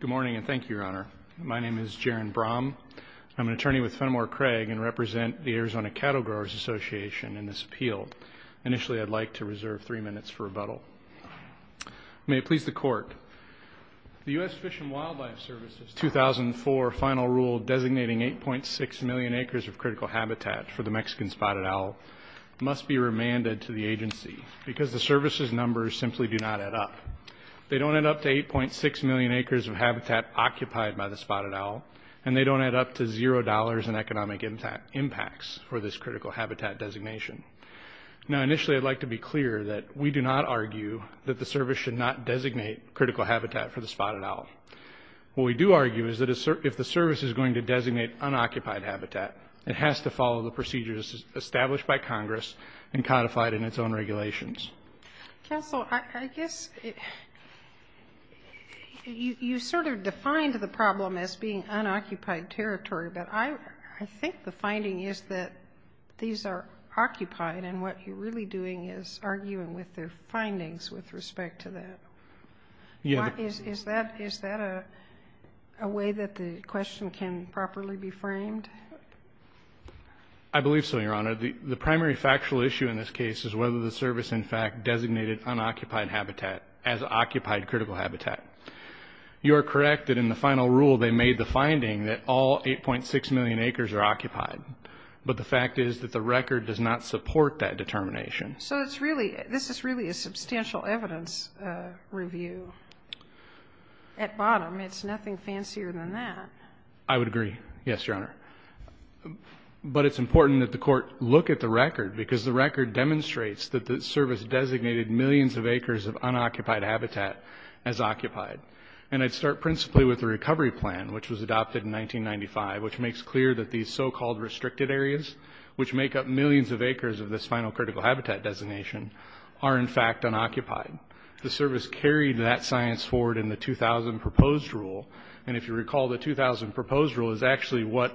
Good morning and thank you, Your Honor. My name is Jaron Brom. I'm an attorney with Fenimore-Craig and represent the Arizona Cattle Growers' Association in this appeal. Initially, I'd like to reserve three minutes for rebuttal. May it please the Court, the U.S. Fish and Wildlife Service's 2004 final rule designating 8.6 million acres of critical habitat for the Mexican spotted owl must be remanded to the agency because the service's numbers simply do not add up. They don't add up to 8.6 million acres of habitat occupied by the spotted owl, and they don't add up to zero dollars in economic impacts for this critical habitat designation. Now, initially, I'd like to be clear that we do not argue that the service should not designate critical habitat for the spotted owl. What we do argue is that if the service is going to designate unoccupied habitat, it has to follow the procedures established by Congress and codified in its own regulations. Counsel, I guess you sort of defined the problem as being unoccupied territory, but I think the finding is that these are occupied, and what you're really doing is arguing with the findings with respect to that. Is that a way that the question can properly be framed? I believe so, Your Honor. The primary factual issue in this case is whether the service, in fact, designated unoccupied habitat as occupied critical habitat. You are correct that in the final rule they made the finding that all 8.6 million acres are occupied, but the fact is that the record does not support that determination. So this is really a substantial evidence review. At bottom, it's nothing fancier than that. I would agree. Yes, Your Honor. But it's important that the Court look at the record because the record demonstrates that the service designated millions of acres of unoccupied habitat as occupied. And I'd start principally with the recovery plan, which was adopted in 1995, which makes clear that these so-called restricted areas, which make up millions of acres of this final critical habitat designation, are in fact unoccupied. The service carried that science forward in the 2000 proposed rule. And if you recall, the 2000 proposed rule is actually what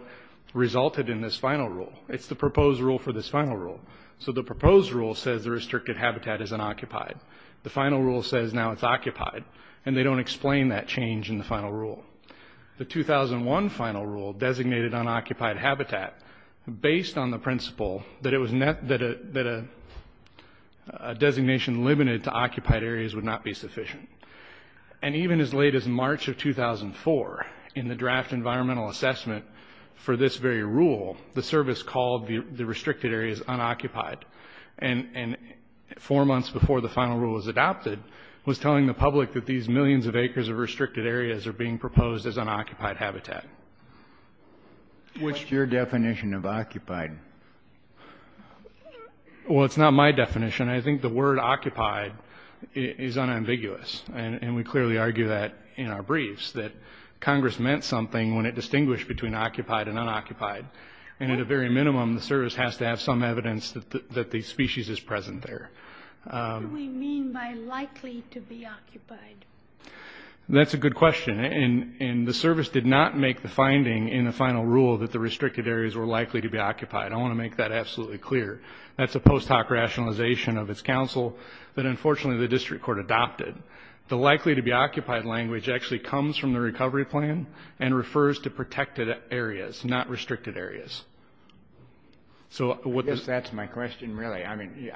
resulted in this final rule. It's the proposed rule for this final rule. So the proposed rule says the restricted habitat is unoccupied. The final rule says now it's occupied. And they don't explain that change in the final rule. The 2001 final rule designated unoccupied habitat based on the principle that a designation limited to occupied areas would not be sufficient. And even as late as March of 2004, in the draft environmental assessment for this very rule, the service called the restricted areas unoccupied. And four months before the final rule was adopted, was telling the public that these millions of acres of restricted areas are being proposed as unoccupied habitat. What's your definition of occupied? Well, it's not my definition. I think the word occupied is unambiguous. And we clearly argue that in our briefs, that Congress meant something when it distinguished between occupied and unoccupied. And at a very minimum, the service has to have some evidence that the species is present there. What do we mean by likely to be occupied? That's a good question. And the service did not make the finding in the final rule that the restricted areas were likely to be occupied. I want to make that absolutely clear. That's a post hoc rationalization of its counsel that, unfortunately, the district court adopted. The likely to be occupied language actually comes from the recovery plan and refers to protected areas, not restricted areas. So that's my question, really. I mean,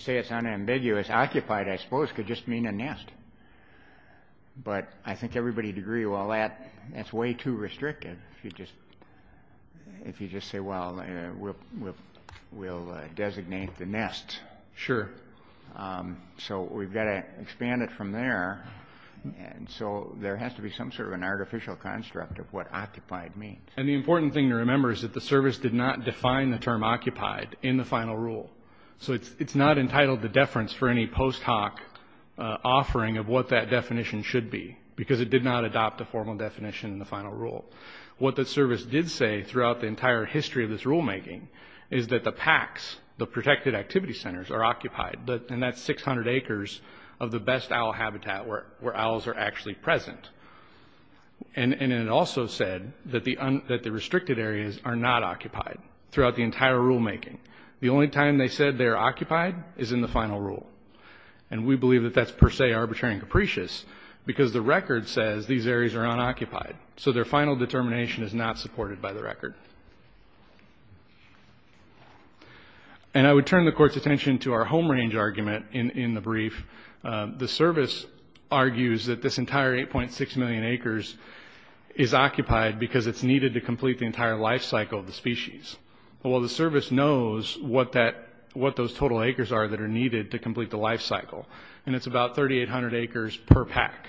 say it's unambiguous. Occupied, I suppose, could just mean a nest. But I think everybody would agree, well, that's way too restrictive. If you just say, well, we'll designate the nest. Sure. So we've got to expand it from there. And so there has to be some sort of an artificial construct of what occupied means. And the important thing to remember is that the service did not define the term occupied in the final rule. So it's not entitled to deference for any post hoc offering of what that definition should be, because it did not adopt a formal definition in the final rule. What the service did say throughout the entire history of this rulemaking is that the PACs, the protected activity centers, are occupied. And that's 600 acres of the best owl habitat where owls are actually present. And it also said that the restricted areas are not occupied throughout the entire rulemaking. The only time they said they are occupied is in the final rule. And we believe that that's per se arbitrary and capricious, because the record says these areas are unoccupied. So their final determination is not supported by the record. And I would turn the court's attention to our home range argument in the brief. The service argues that this entire 8.6 million acres is occupied because it's needed to complete the entire life cycle of the species. Well, the service knows what those total acres are that are needed to complete the life cycle. And it's about 3,800 acres per PAC.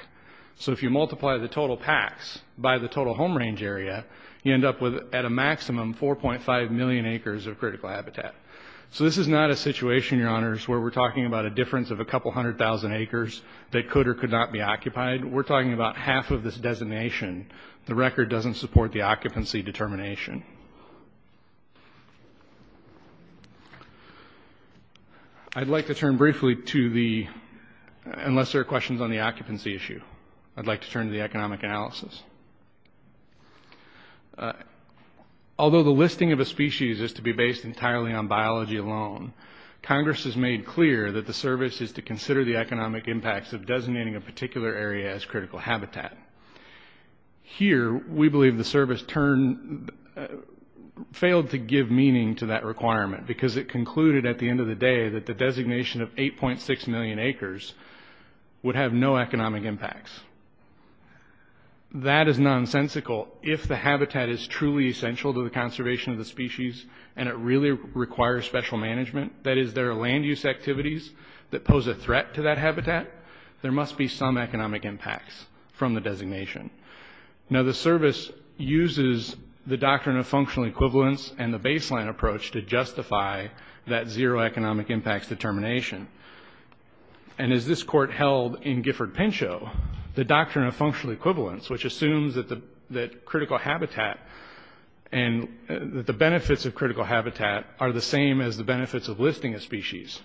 So if you multiply the total PACs by the total home range area, you end up with, at a maximum, 4.5 million acres of critical habitat. So this is not a situation, Your Honors, where we're talking about a difference of a couple hundred thousand acres that could or could not be occupied. We're talking about half of this designation. The record doesn't support the occupancy determination. I'd like to turn briefly to the, unless there are questions on the occupancy issue, I'd like to turn to the economic analysis. Although the listing of a species is to be based entirely on biology alone, Congress has made clear that the service is to consider the economic impacts of designating a particular area as critical habitat. Here, we believe the service failed to give meaning to that requirement because it concluded, at the end of the day, that the designation of 8.6 million acres would have no economic impacts. That is nonsensical. If the habitat is truly essential to the conservation of the species and it really requires special management, that is, there are land use activities that must be some economic impacts from the designation. Now the service uses the doctrine of functional equivalence and the baseline approach to justify that zero economic impacts determination. And as this Court held in Gifford-Pinchot, the doctrine of functional equivalence, which assumes that critical habitat and that the benefits of critical habitat are the same as the benefits of listing a species,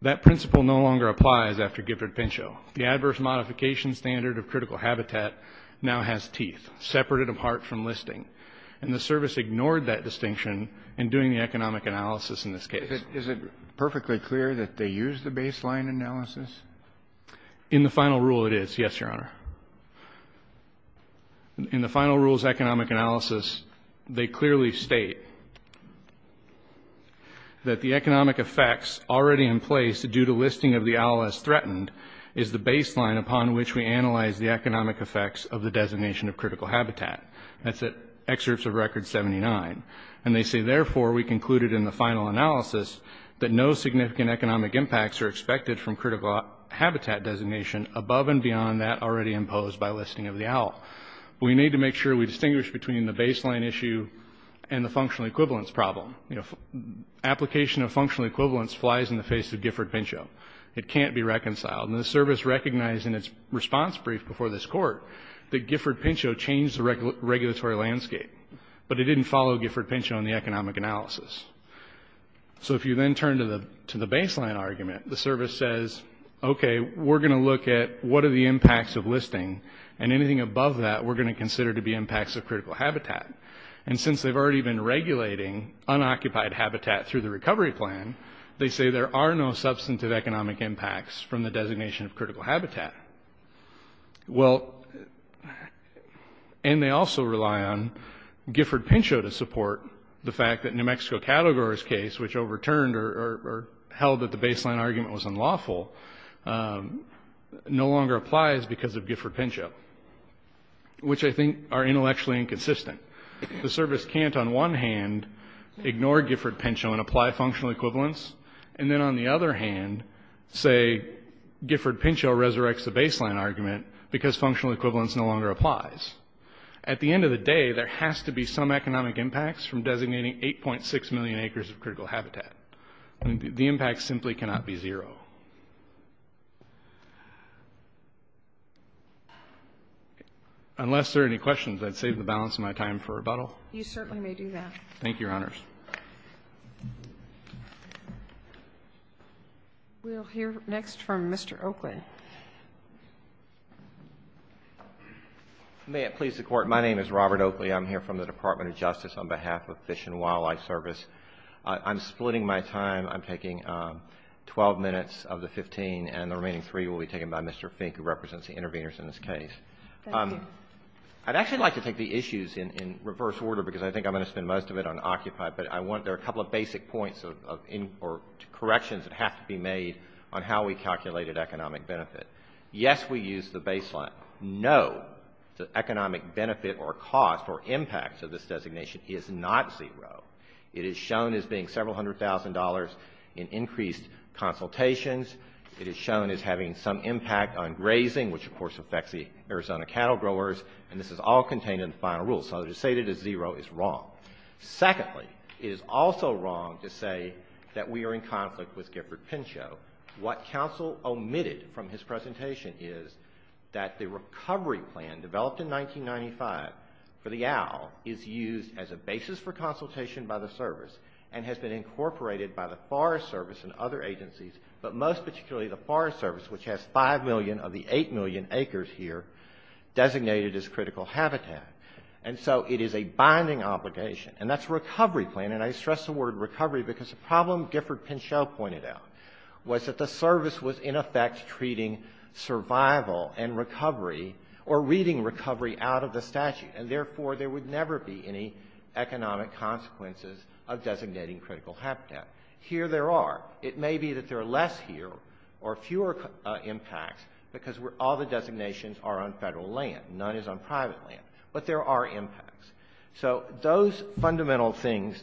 that principle no longer applies after Gifford-Pinchot. The adverse modification standard of critical habitat now has teeth, separated apart from listing. And the service ignored that distinction in doing the economic analysis in this case. Is it perfectly clear that they use the baseline analysis? In the final rule, it is, yes, Your Honor. In the final rule's economic analysis, they clearly state that the economic effects already in place due to listing of the owl as threatened is the baseline upon which we analyze the economic effects of the designation of critical habitat. That's at excerpts of Record 79. And they say, therefore, we concluded in the final analysis that no significant economic impacts are expected from critical habitat designation above and beyond that already imposed by listing of the owl. We need to make sure we distinguish between the baseline issue and the functional equivalence problem. You know, application of functional equivalence flies in the face of Gifford-Pinchot. It can't be reconciled. And the service recognized in its response brief before this Court that Gifford-Pinchot changed the regulatory landscape, but it didn't follow Gifford-Pinchot in the economic analysis. So if you then turn to the baseline argument, the service says, okay, we're going to look at what are the impacts of listing, and anything above that we're going to consider to be impacts of critical habitat. And since they've already been regulating unoccupied habitat through the recovery plan, they say there are no substantive economic impacts from the designation of critical habitat. Well, and they also rely on Gifford-Pinchot to support the fact that New Mexico Cattlegrower's case, which overturned or held that the baseline argument was unlawful, no longer applies because of Gifford-Pinchot, which I think are intellectually inconsistent. The service can't, on one hand, ignore Gifford-Pinchot and apply functional equivalence, and then on the other hand say Gifford-Pinchot resurrects the baseline argument because functional equivalence no longer applies. At the end of the day, there has to be some economic impacts from designating 8.6 million acres of critical habitat. The impacts simply cannot be zero. Unless there are any questions, I'd save the balance of my time for rebuttal. You certainly may do that. Thank you, Your Honors. We'll hear next from Mr. Oakley. May it please the Court. My name is Robert Oakley. I'm here from the Department of Justice on behalf of Fish and Wildlife Service. I'm splitting my time. I'm taking 12 minutes of the 15, and the remaining three will be taken by Mr. Fink, who represents the interveners in this case. Thank you. I'd actually like to take the issues in reverse order, because I think I'm going to spend most of it on Occupy, but I want to go to a couple of basic points or corrections that have to be made on how we calculated economic benefit. Yes, we used the baseline. No, the economic benefit or cost or impact of this designation is not zero. It is shown as being several hundred thousand dollars in increased consultations. It is shown as having some impact on grazing, which, of course, affects the Arizona cattle growers, and this is all contained in the final rule. So to say that it's zero is wrong. Secondly, it is also wrong to say that we are in conflict with Gifford Pinchot. What counsel omitted from his presentation is that the recovery plan developed in 1995 for the OWL is used as a basis for consultation by the service, and has been incorporated by the Forest Service and other agencies, but most particularly the Forest Service, which has five million of the eight million acres here designated as critical habitat. And so it is a binding obligation, and that's recovery plan, and I stress the word recovery because the problem Gifford Pinchot pointed out was that the service was, in effect, treating survival and recovery or reading recovery out of the statute, and, therefore, there would never be any economic consequences of designating critical habitat. Here there are. It may be that there are less here or fewer impacts because all the designations are on Federal land. None is on private land. But there are impacts. So those fundamental things,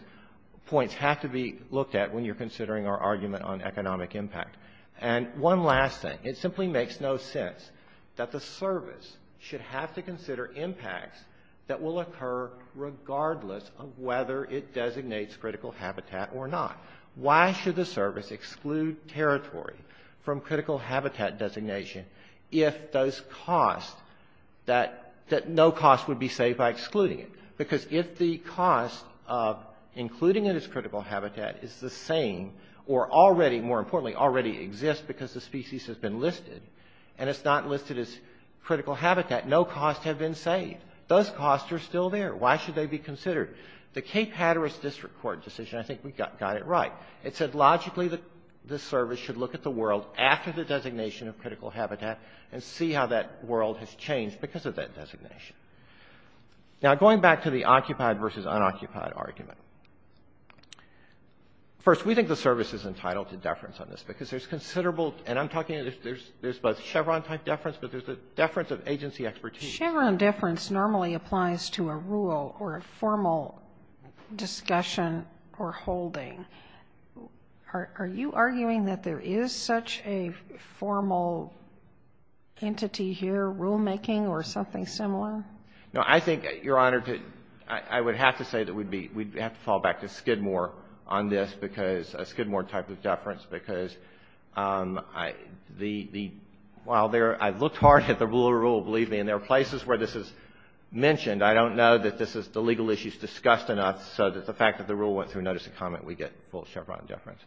points, have to be looked at when you're considering our argument on economic impact. And one last thing. It simply makes no sense that the service should have to consider impacts that will occur regardless of whether it designates critical habitat or not. Why should the service exclude territory from critical habitat designation if those costs, that no cost would be saved by excluding it? Because if the cost of including it as critical habitat is the same or already, more importantly, already exists because the species has been listed, and it's not listed as critical habitat, no costs have been saved. Those costs are still there. Why should they be considered? The Cape Hatteras District Court decision, I think we got it right. It said logically the service should look at the world after the designation of critical habitat and see how that world has changed because of that designation. Now, going back to the occupied versus unoccupied argument, first, we think the service is entitled to deference on this because there's considerable, and I'm talking, there's both Chevron-type deference, but there's a deference of agency expertise. Chevron deference normally applies to a rule or a formal discussion or holding. Are you arguing that there is such a formal entity here, rulemaking, or something similar? No, I think, Your Honor, I would have to say that we'd have to fall back to Skidmore on this because, a Skidmore type of deference because while I looked hard at the rule, believe me, and there are places where this is mentioned, I don't know that this is the legal issues discussed enough so that the fact that the rule went through notice of comment, we get full Chevron deference.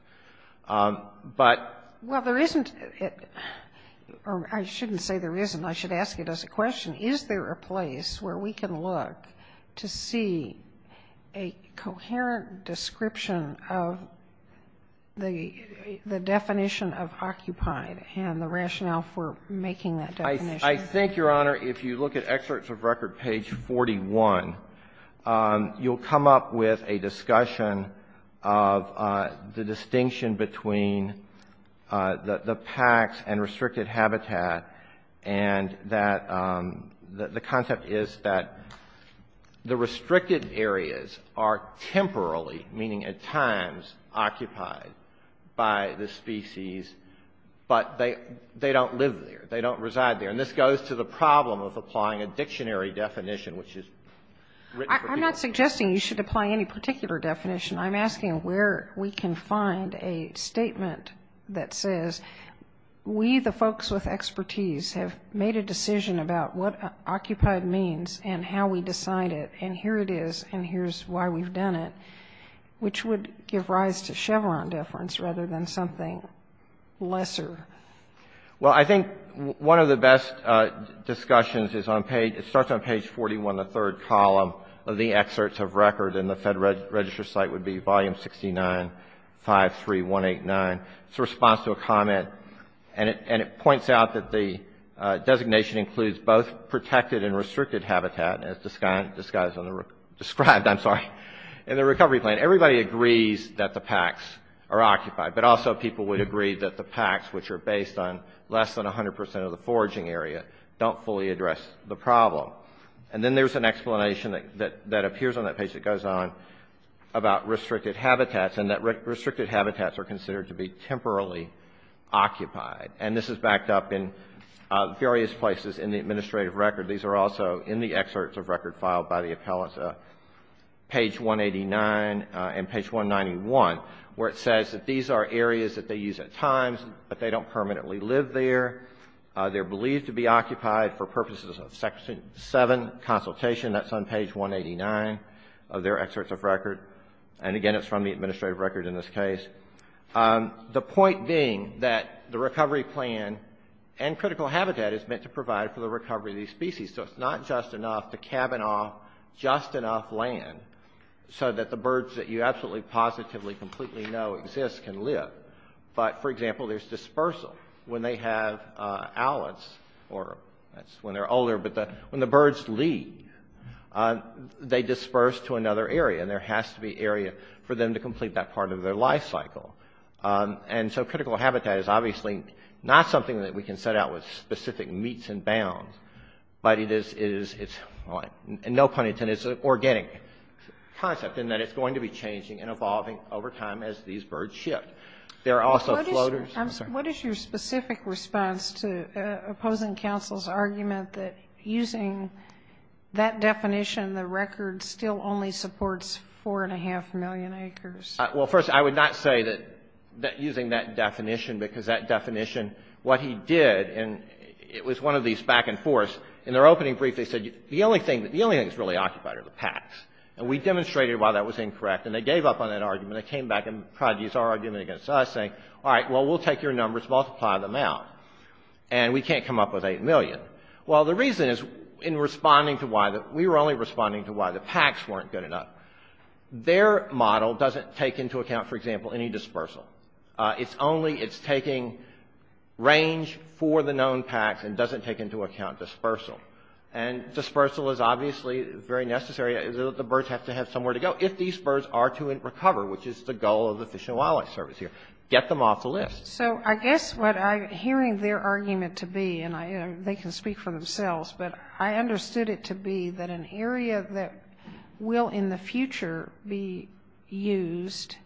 But there isn't or I shouldn't say there isn't, I should ask it as a question. Is there a place where we can look to see a coherent description of the definition of occupied and the rationale for making that definition? I think, Your Honor, if you look at Excerpts of Record, page 41, you'll come up with a discussion of the distinction between the PACs and restricted habitat, and that the concept is that the restricted areas are temporarily, meaning at times, occupied by the species, but they don't live there, they don't reside there. And this goes to the problem of applying a dictionary definition, which is written for people. I'm not suggesting you should apply any particular definition. I'm asking where we can find a statement that says, we, the folks with expertise, have made a decision about what occupied means and how we decide it. And here it is, and here's why we've done it, which would give rise to Chevron deference rather than something lesser. Well, I think one of the best discussions is on page, it starts on page 41, the third column of the Excerpts of Record, and the Fed Register site would be Volume 69, 53189. It's a response to a comment, and it points out that the designation includes both protected and restricted habitat, as described in the recovery plan. Everybody agrees that the PACs are occupied, but also people would agree that the PACs, which are based on less than 100 percent of the foraging area, don't fully address the problem. And then there's an explanation that appears on that page that goes on about restricted habitats, and that restricted habitats are considered to be temporarily occupied. And this is backed up in various places in the administrative record. These are also in the Excerpts of Record filed by the appellants, page 189 and page 191, where it says that these are areas that they use at times, but they don't permanently live there. They're believed to be occupied for purposes of Section 7 consultation. That's on page 189 of their Excerpts of Record. And again, it's from the administrative record in this case. The point being that the recovery plan and critical habitat is meant to provide for the recovery of these species, so it's not just enough to cabin off just enough land so that the birds that you absolutely, positively, completely know exist can live. But, for example, there's dispersal. When they have owlets, or that's when they're older, but when the birds leave, they disperse to another area, and there has to be area for them to complete that part of their life cycle. And so critical habitat is obviously not something that we can set out with specific meets and bounds, but it is, and no pun intended, it's an organic concept in that it's going to be changing and evolving over time as these birds shift. There are also floaters. I'm sorry. What is your specific response to opposing counsel's argument that using that definition, the record still only supports 4.5 million acres? Well, first, I would not say that using that definition, because that definition, what he did, and it was one of these back and forths. In their opening brief, they said the only thing that's really occupied are the packs. And we demonstrated why that was incorrect, and they gave up on that argument. And they came back and tried to use our argument against us, saying, all right, well, we'll take your numbers, multiply them out, and we can't come up with 8 million. Well, the reason is, in responding to why, we were only responding to why the packs weren't good enough. Their model doesn't take into account, for example, any dispersal. It's only, it's taking range for the known packs and doesn't take into account dispersal. And dispersal is obviously very necessary, the birds have to have somewhere to go if these birds are to recover, which is the goal of the Fish and Wildlife Service here. Get them off the list. So I guess what I'm hearing their argument to be, and they can speak for themselves, but I understood it to be that an area that will, in the future, be used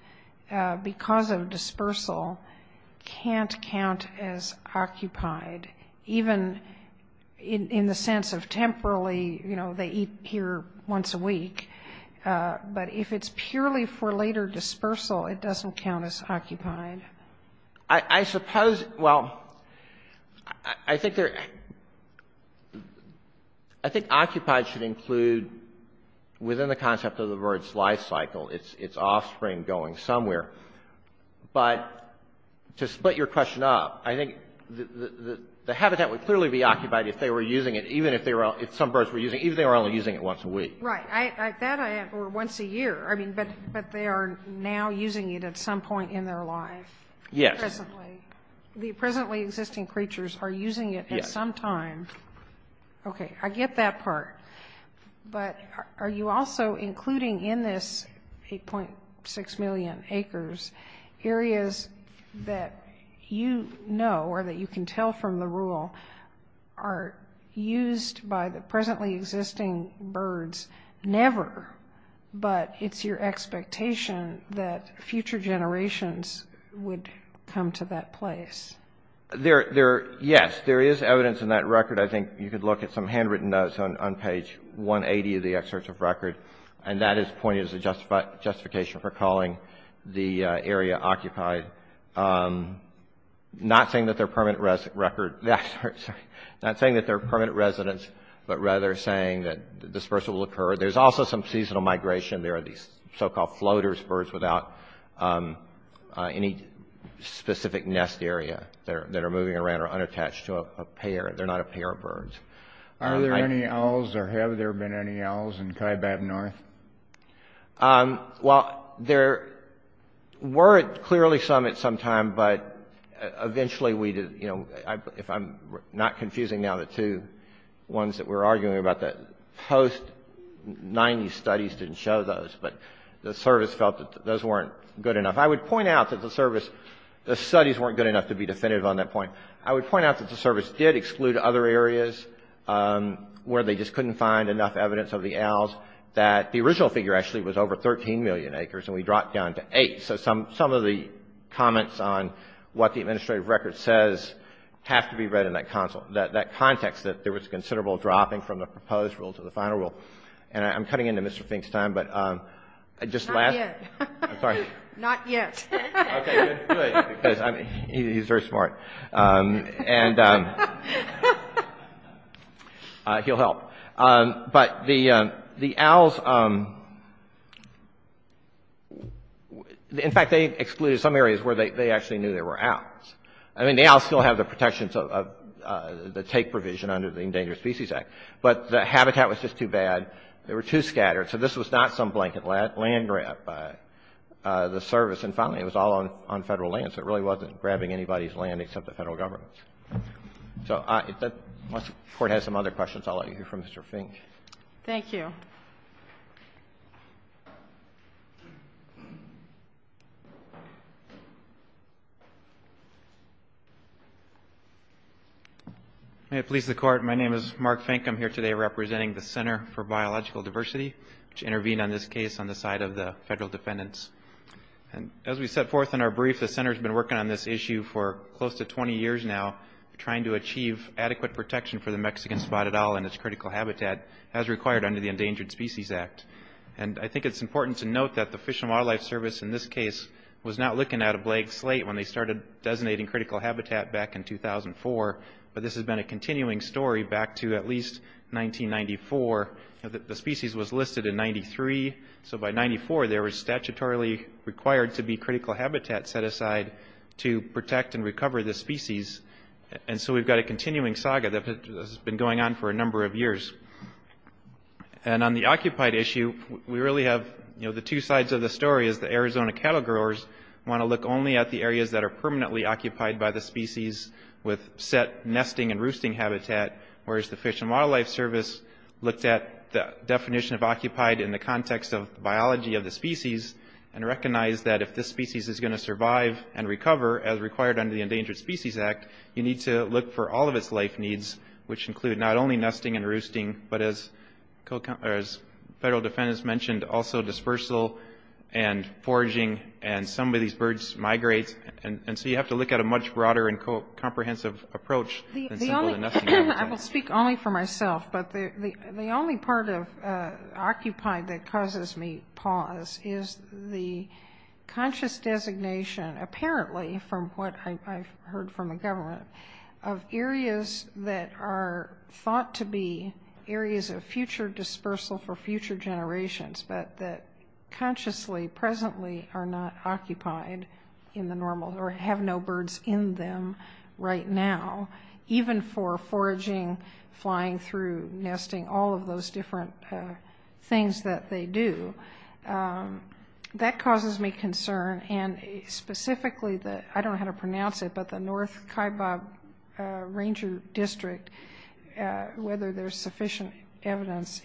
because of dispersal can't count as occupied, even in the sense of temporally, you know, they eat here once a week. But if it's purely for later dispersal, it doesn't count as occupied. I suppose, well, I think they're, I think occupied should include, within the concept of the bird's life cycle, its offspring going somewhere. But to split your question up, I think the habitat would clearly be occupied if they were using it, even if they were, if some birds were using it, even if they were only using it once a week. Right. That, or once a year. I mean, but they are now using it at some point in their life. Yes. Presently. The presently existing creatures are using it at some time. Yes. Okay. I get that part. But are you also, including in this 8.6 million acres, areas that you know or that you can tell from the rule are used by the presently existing birds never, but it's your expectation that future generations would come to that place? Yes. There is evidence in that record. I think you could look at some handwritten notes on page 180 of the excerpt of record, and that is pointed as a justification for calling the area occupied. Not saying that they're permanent residents, but rather saying that dispersal will occur. There's also some seasonal migration. There are these so-called floaters, birds without any specific nest area that are moving around or unattached to a pair. They're not a pair of birds. Are there any owls, or have there been any owls in Kaibab North? Well, there were clearly some at some time, but eventually we did, you know, if I'm not confusing now the two ones that we're arguing about, the post-'90s studies didn't show those, but the service felt that those weren't good enough. I would point out that the service, the studies weren't good enough to be definitive on that point. I would point out that the service did exclude other areas where they just couldn't find enough evidence of the owls, that the original figure actually was over 13 million acres, and we dropped down to eight. So some of the comments on what the administrative record says have to be read in that context, that there was considerable dropping from the proposed rule to the final rule. And I'm cutting into Mr. Fink's time, but I just last — Not yet. I'm sorry. Not yet. Okay. Good. Good. Because he's very smart. And he'll help. But the owls — in fact, they excluded some areas where they actually knew there were owls. I mean, the owls still have the protections of the take provision under the Endangered Species Act, but the habitat was just too bad. They were too scattered. So this was not some blanket land grab by the service. And finally, it was all on Federal lands. It really wasn't grabbing anybody's land except the Federal governments. So if the Court has some other questions, I'll let you hear from Mr. Fink. Thank you. May it please the Court, my name is Mark Fink. I'm here today representing the Center for Biological Diversity, which intervened on this case on the side of the Federal defendants. And as we set forth in our brief, the Center's been working on this issue for close to 20 years now, trying to achieve adequate protection for the Mexican spotted owl and its critical habitat as required under the Endangered Species Act. And I think it's important to note that the Fish and Wildlife Service in this case was not looking at a blank slate when they started designating critical habitat back in 2004, but this has been a continuing story back to at least 1994. The species was listed in 93. So by 94, there was statutorily required to be critical habitat set aside to protect and recover this species. And so we've got a continuing saga that has been going on for a number of years. And on the occupied issue, we really have, you know, the two sides of the story is the Arizona cattle growers want to look only at the areas that are permanently occupied by the species with set nesting and roosting habitat, whereas the Fish and Wildlife Service looked at the definition of occupied in the context of biology of the species and recognized that if this species is going to survive and recover as required under the Endangered Species Act, you need to look for all of its life needs, which include not only nesting and roosting, but as federal defendants mentioned, also dispersal and foraging, and some of these birds migrate, and so you have to look at a much broader and comprehensive approach than simply the nesting habitat. I will speak only for myself, but the only part of occupied that causes me pause is the conscious designation, apparently, from what I've heard from the government, of areas that are thought to be areas of future dispersal for future generations, but that consciously, presently, are not occupied in the normal or have no birds in them right now, even for foraging, flying through, nesting, all of those different things that they do. That causes me concern, and specifically, I don't know how to pronounce it, but the North Kaibab Ranger District, whether there's sufficient evidence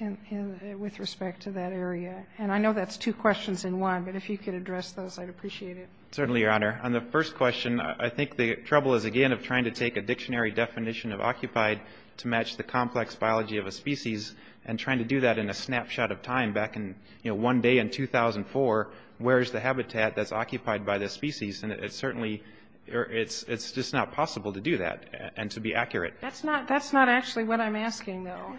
with respect to that area, and I know that's two questions in one, but if you could address those, I'd appreciate it. Certainly, Your Honor. On the first question, I think the trouble is, again, of trying to take a dictionary definition of occupied to match the complex biology of a species, and trying to do that in a snapshot of time, back in, you know, one day in 2004, where's the habitat that's occupied by the species, and it's certainly, it's just not possible to do that, and to be accurate. That's not actually what I'm asking, though.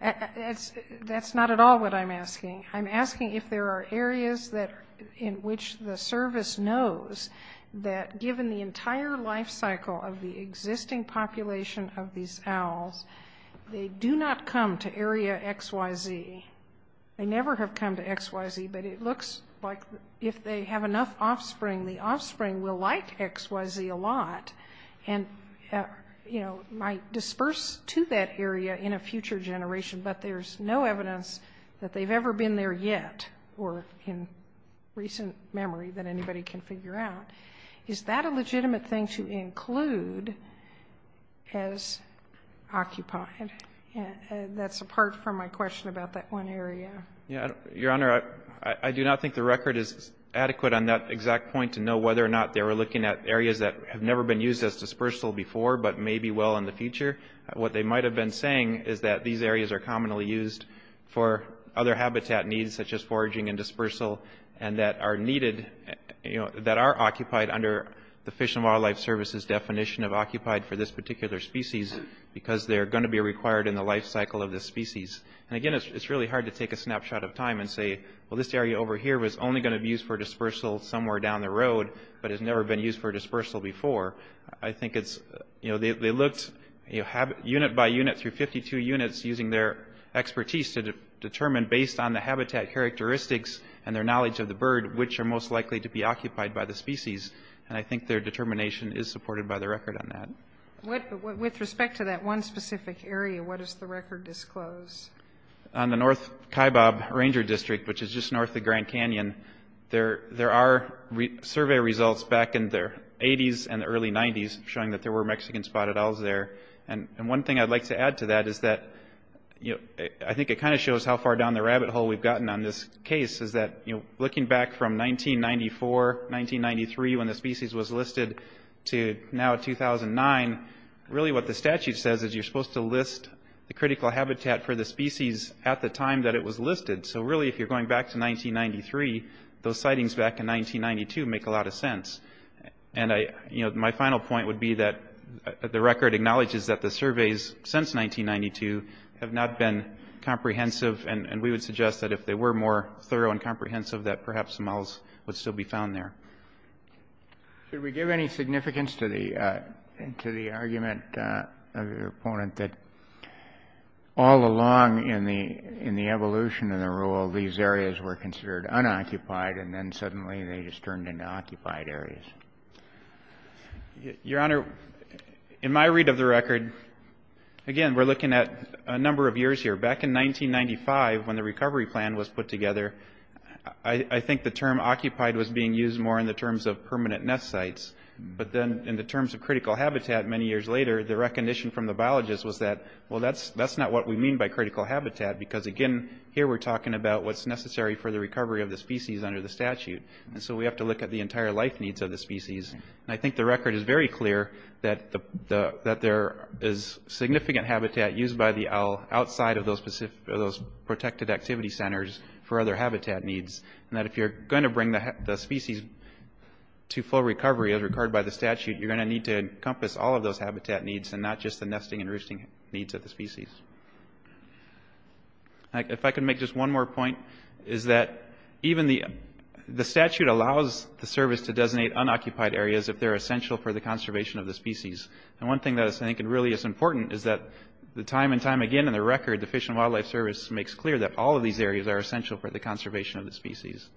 That's not at all what I'm asking. I'm asking if there are areas that, in which the service knows that, given the entire life cycle of the existing population of these owls, they do not come to area XYZ. They never have come to XYZ, but it looks like if they have enough offspring, the offspring will like XYZ a lot, and, you know, might disperse to that area in a future generation, but there's no evidence that they've ever been there yet, or in recent memory, that anybody can figure out. Is that a legitimate thing to include as occupied? That's apart from my question about that one area. Yeah, Your Honor, I do not think the record is adequate on that exact point, to know whether or not they were looking at areas that have never been used as dispersal before, but may be well in the future. What they might have been saying is that these areas are commonly used for other habitat needs, such as foraging and dispersal, and that are occupied under the Fish and Wildlife Service's definition of occupied for this particular species, because they're going to be required in the life cycle of this species. And again, it's really hard to take a snapshot of time and say, well, this area over here was only going to be used for dispersal somewhere down the road, but has never been used for dispersal before. I think it's, you know, they looked unit by unit through 52 units, using their expertise to determine, based on the habitat characteristics and their knowledge of the bird, which are most likely to be occupied by the species. And I think their determination is supported by the record on that. With respect to that one specific area, what does the record disclose? On the North Kaibab Ranger District, which is just north of Grand Canyon, there are survey results back in the 80s and the early 90s, showing that there were Mexican spotted owls there. And one thing I'd like to add to that is that, you know, I think it kind of shows how far down the rabbit hole we've gotten on this case, is that, you know, looking back from 1994, 1993, when the species was listed, to now 2009, really what the statute says is you're supposed to list the critical habitat for the species at the time that it was listed. So really, if you're going back to 1993, those sightings back in 1992 make a lot of sense. And, you know, my final point would be that the record acknowledges that the surveys since 1992 have not been comprehensive. And we would suggest that if they were more thorough and comprehensive, that perhaps some owls would still be found there. Should we give any significance to the argument of your opponent that all along in the evolution of the rule, these areas were considered unoccupied, and then suddenly they just turned into occupied areas? Your Honor, in my read of the record, again, we're looking at a number of years here. Back in 1995, when the recovery plan was put together, I think the term occupied was being used more in the terms of permanent nest sites. But then in the terms of critical habitat many years later, the recognition from the biologists was that, well, that's not what we mean by critical habitat. Because, again, here we're talking about what's necessary for the recovery of the species under the statute. And so we have to look at the entire life needs of the species. And I think the record is very clear that there is significant habitat used by the owl outside of those protected activity centers for other habitat needs. And that if you're going to bring the species to full recovery as required by the statute, you're going to need to encompass all of those habitat needs and not just the nesting and roosting needs of the species. If I could make just one more point, is that even the statute allows the service to designate unoccupied areas if they're essential for the conservation of the species. And one thing that I think really is important is that the time and time again in the record, the Fish and Wildlife Service makes clear that all of these areas are essential for the conservation of the species.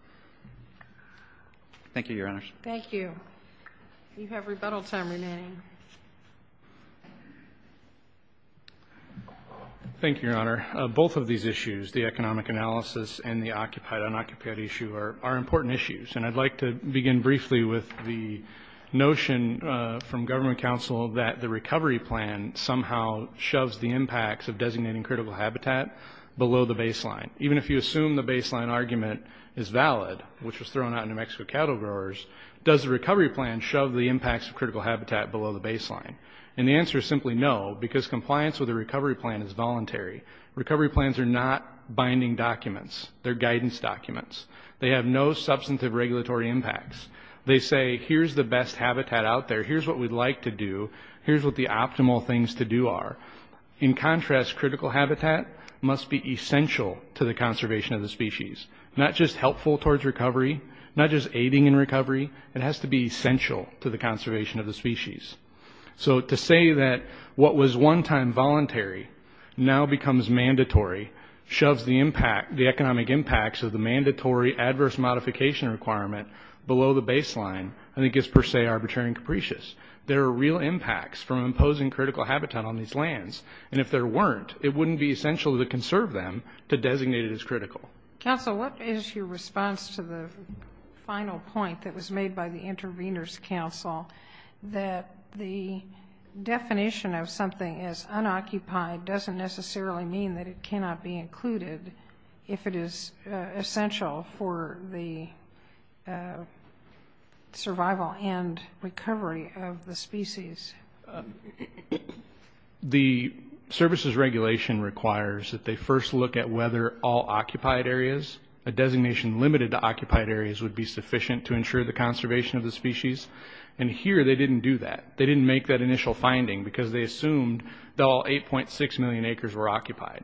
Thank you, Your Honors. Thank you. Thank you, Your Honor. Both of these issues, the economic analysis and the occupied unoccupied issue are important issues. And I'd like to begin briefly with the notion from government counsel that the recovery plan somehow shoves the impacts of designating critical habitat below the baseline. Even if you assume the baseline argument is valid, which was thrown out in New Mexico cattle growers, does the recovery plan shove the impacts of critical habitat below the baseline? And the answer is simply no, because compliance with the recovery plan is voluntary. Recovery plans are not binding documents. They're guidance documents. They have no substantive regulatory impacts. They say, here's the best habitat out there. Here's what we'd like to do. Here's what the optimal things to do are. In contrast, critical habitat must be essential to the conservation of the species. Not just helpful towards recovery. Not just aiding in recovery. It has to be essential to the conservation of the species. So to say that what was one time voluntary now becomes mandatory, shoves the economic impacts of the mandatory adverse modification requirement below the baseline, I think is per se arbitrary and capricious. There are real impacts from imposing critical habitat on these lands. And if there weren't, it wouldn't be essential to conserve them to designate it as critical. Council, what is your response to the final point that was made by the interveners council that the definition of something as unoccupied doesn't necessarily mean that it cannot be included if it is essential for the survival and recovery of the species? The services regulation requires that they first look at whether all occupied areas, a designation limited to occupied areas would be sufficient to ensure the conservation of the species. And here, they didn't do that. They didn't make that initial finding because they assumed that all 8.6 million acres were occupied.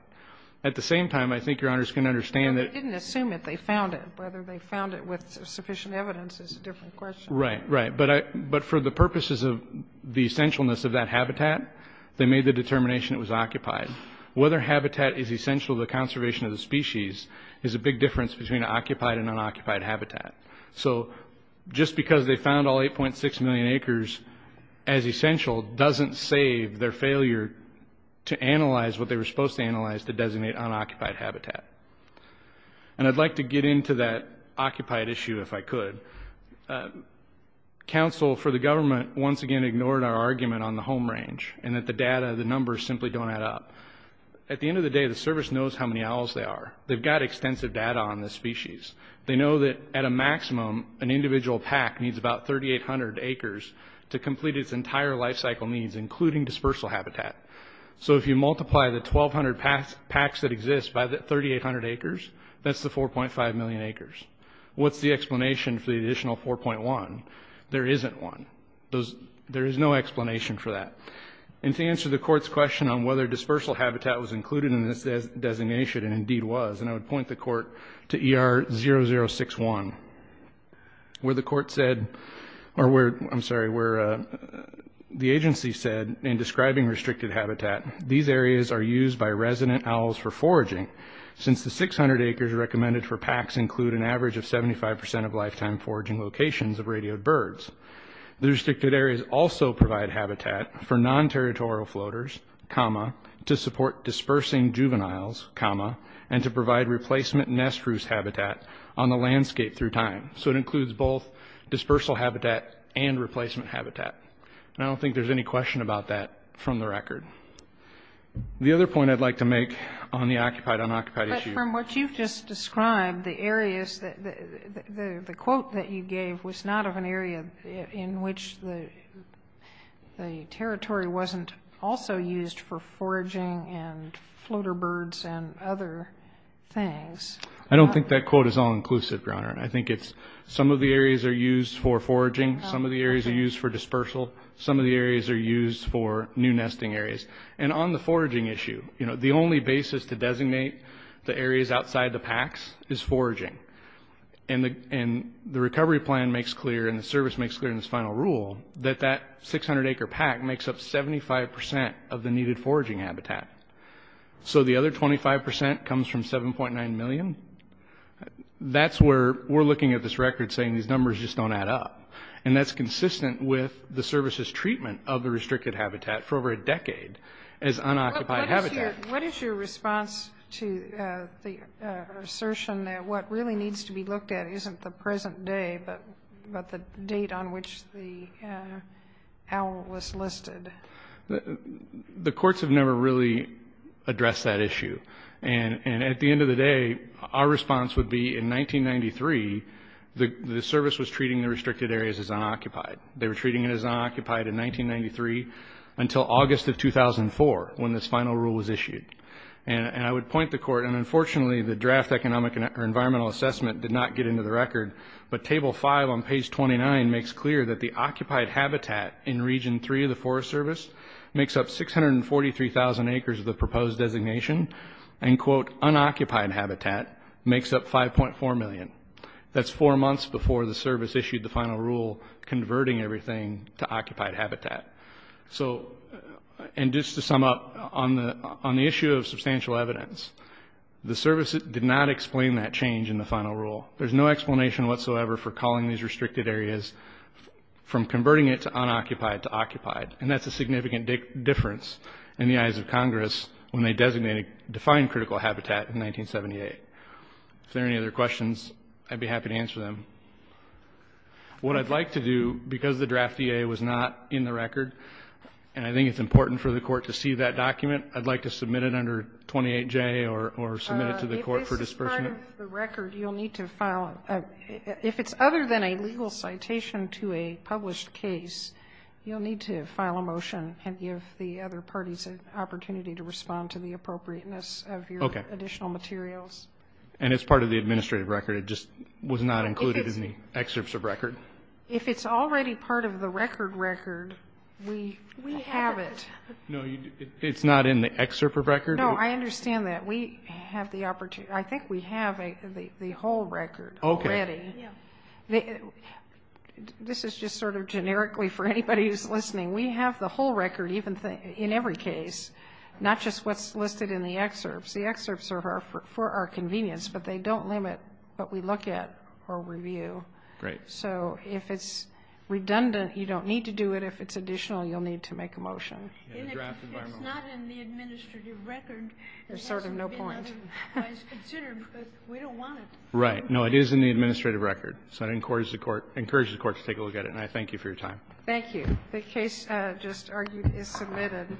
At the same time, I think your honors can understand that. They didn't assume it, they found it. Whether they found it with sufficient evidence is a different question. Right, right. But for the purposes of the essentialness of that habitat, they made the determination it was occupied. Whether habitat is essential to the conservation of the species is a big difference between occupied and unoccupied habitat. So just because they found all 8.6 million acres as essential doesn't save their failure to analyze what they were supposed to analyze to designate unoccupied habitat. And I'd like to get into that occupied issue if I could. Council, for the government, once again ignored our argument on the home range and that the data, the numbers simply don't add up. At the end of the day, the service knows how many owls there are. They've got extensive data on the species. They know that at a maximum, an individual pack needs about 3,800 acres to complete its entire life cycle needs, including dispersal habitat. So if you multiply the 1,200 packs that exist by the 3,800 acres, that's the 4.5 million acres. What's the explanation for the additional 4.1? There isn't one. There is no explanation for that. And to answer the court's question on whether dispersal habitat was included in this designation, and indeed was, and I would point the court to ER 0061, where the court said, or where, I'm sorry, where the agency said, in describing restricted habitat, these areas are used by resident owls for foraging, since the 600 acres recommended for packs include an average of 75% of lifetime foraging locations of radioed birds. The restricted areas also provide habitat for non-territorial floaters, comma, to support dispersing juveniles, comma, and to provide replacement nest roost habitat on the landscape through time. So it includes both dispersal habitat and replacement habitat. And I don't think there's any question about that from the record. The other point I'd like to make on the occupied, unoccupied issue. But from what you've just described, the areas, the quote that you gave was not of an area in which the territory wasn't also used for foraging and floater birds and other things. I don't think that quote is all-inclusive, Your Honor. I think it's some of the areas are used for foraging, some of the areas are used for dispersal, some of the areas are used for new nesting areas. And on the foraging issue, you know, the only basis to designate the areas outside the packs is foraging. And the recovery plan makes clear and the service makes clear in this final rule that that 600-acre pack makes up 75% of the needed foraging habitat. So the other 25% comes from 7.9 million. That's where we're looking at this record saying these numbers just don't add up. And that's consistent with the service's treatment of the restricted habitat for over a decade as unoccupied habitat. What is your response to the assertion that what really needs to be looked at isn't the present day, but the date on which the owl was listed? The courts have never really addressed that issue. And at the end of the day, our response would be in 1993, the service was treating the restricted areas as unoccupied. They were treating it as unoccupied in 1993 until August of 2004 when this final rule was issued. And I would point the court, and unfortunately, the draft economic or environmental assessment did not get into the record, but table 5 on page 29 makes clear that the occupied habitat in region 3 of the Forest Service makes up 643,000 acres of the proposed designation and quote, unoccupied habitat makes up 5.4 million. That's four months before the service issued the final rule converting everything to occupied habitat. So, and just to sum up, on the issue of substantial evidence, the service did not explain that change in the final rule. There's no explanation whatsoever for calling these restricted areas from converting it to unoccupied to occupied. And that's a significant difference in the eyes of Congress when they designated, defined critical habitat in 1978. If there are any other questions, I'd be happy to answer them. What I'd like to do, because the draft EA was not in the record, and I think it's important for the court to see that document, I'd like to submit it under 28J or submit it to the court for disbursement. If this is part of the record, you'll need to file, if it's other than a legal citation to a published case, you'll need to file a motion and give the other parties an opportunity to respond to the appropriateness of your additional materials. And it's part of the administrative record? It just was not included in the excerpts of record? If it's already part of the record record, we have it. No, it's not in the excerpt of record? No, I understand that. We have the opportunity, I think we have the whole record already. This is just sort of generically for anybody who's listening. We have the whole record in every case. Not just what's listed in the excerpts. The excerpts are for our convenience, but they don't limit what we look at or review. Great. So if it's redundant, you don't need to do it. If it's additional, you'll need to make a motion. It's not in the administrative record. There's sort of no point. It's considered because we don't want it. Right. No, it is in the administrative record. So I encourage the court to take a look at it, and I thank you for your time. Thank you. The case just argued is submitted.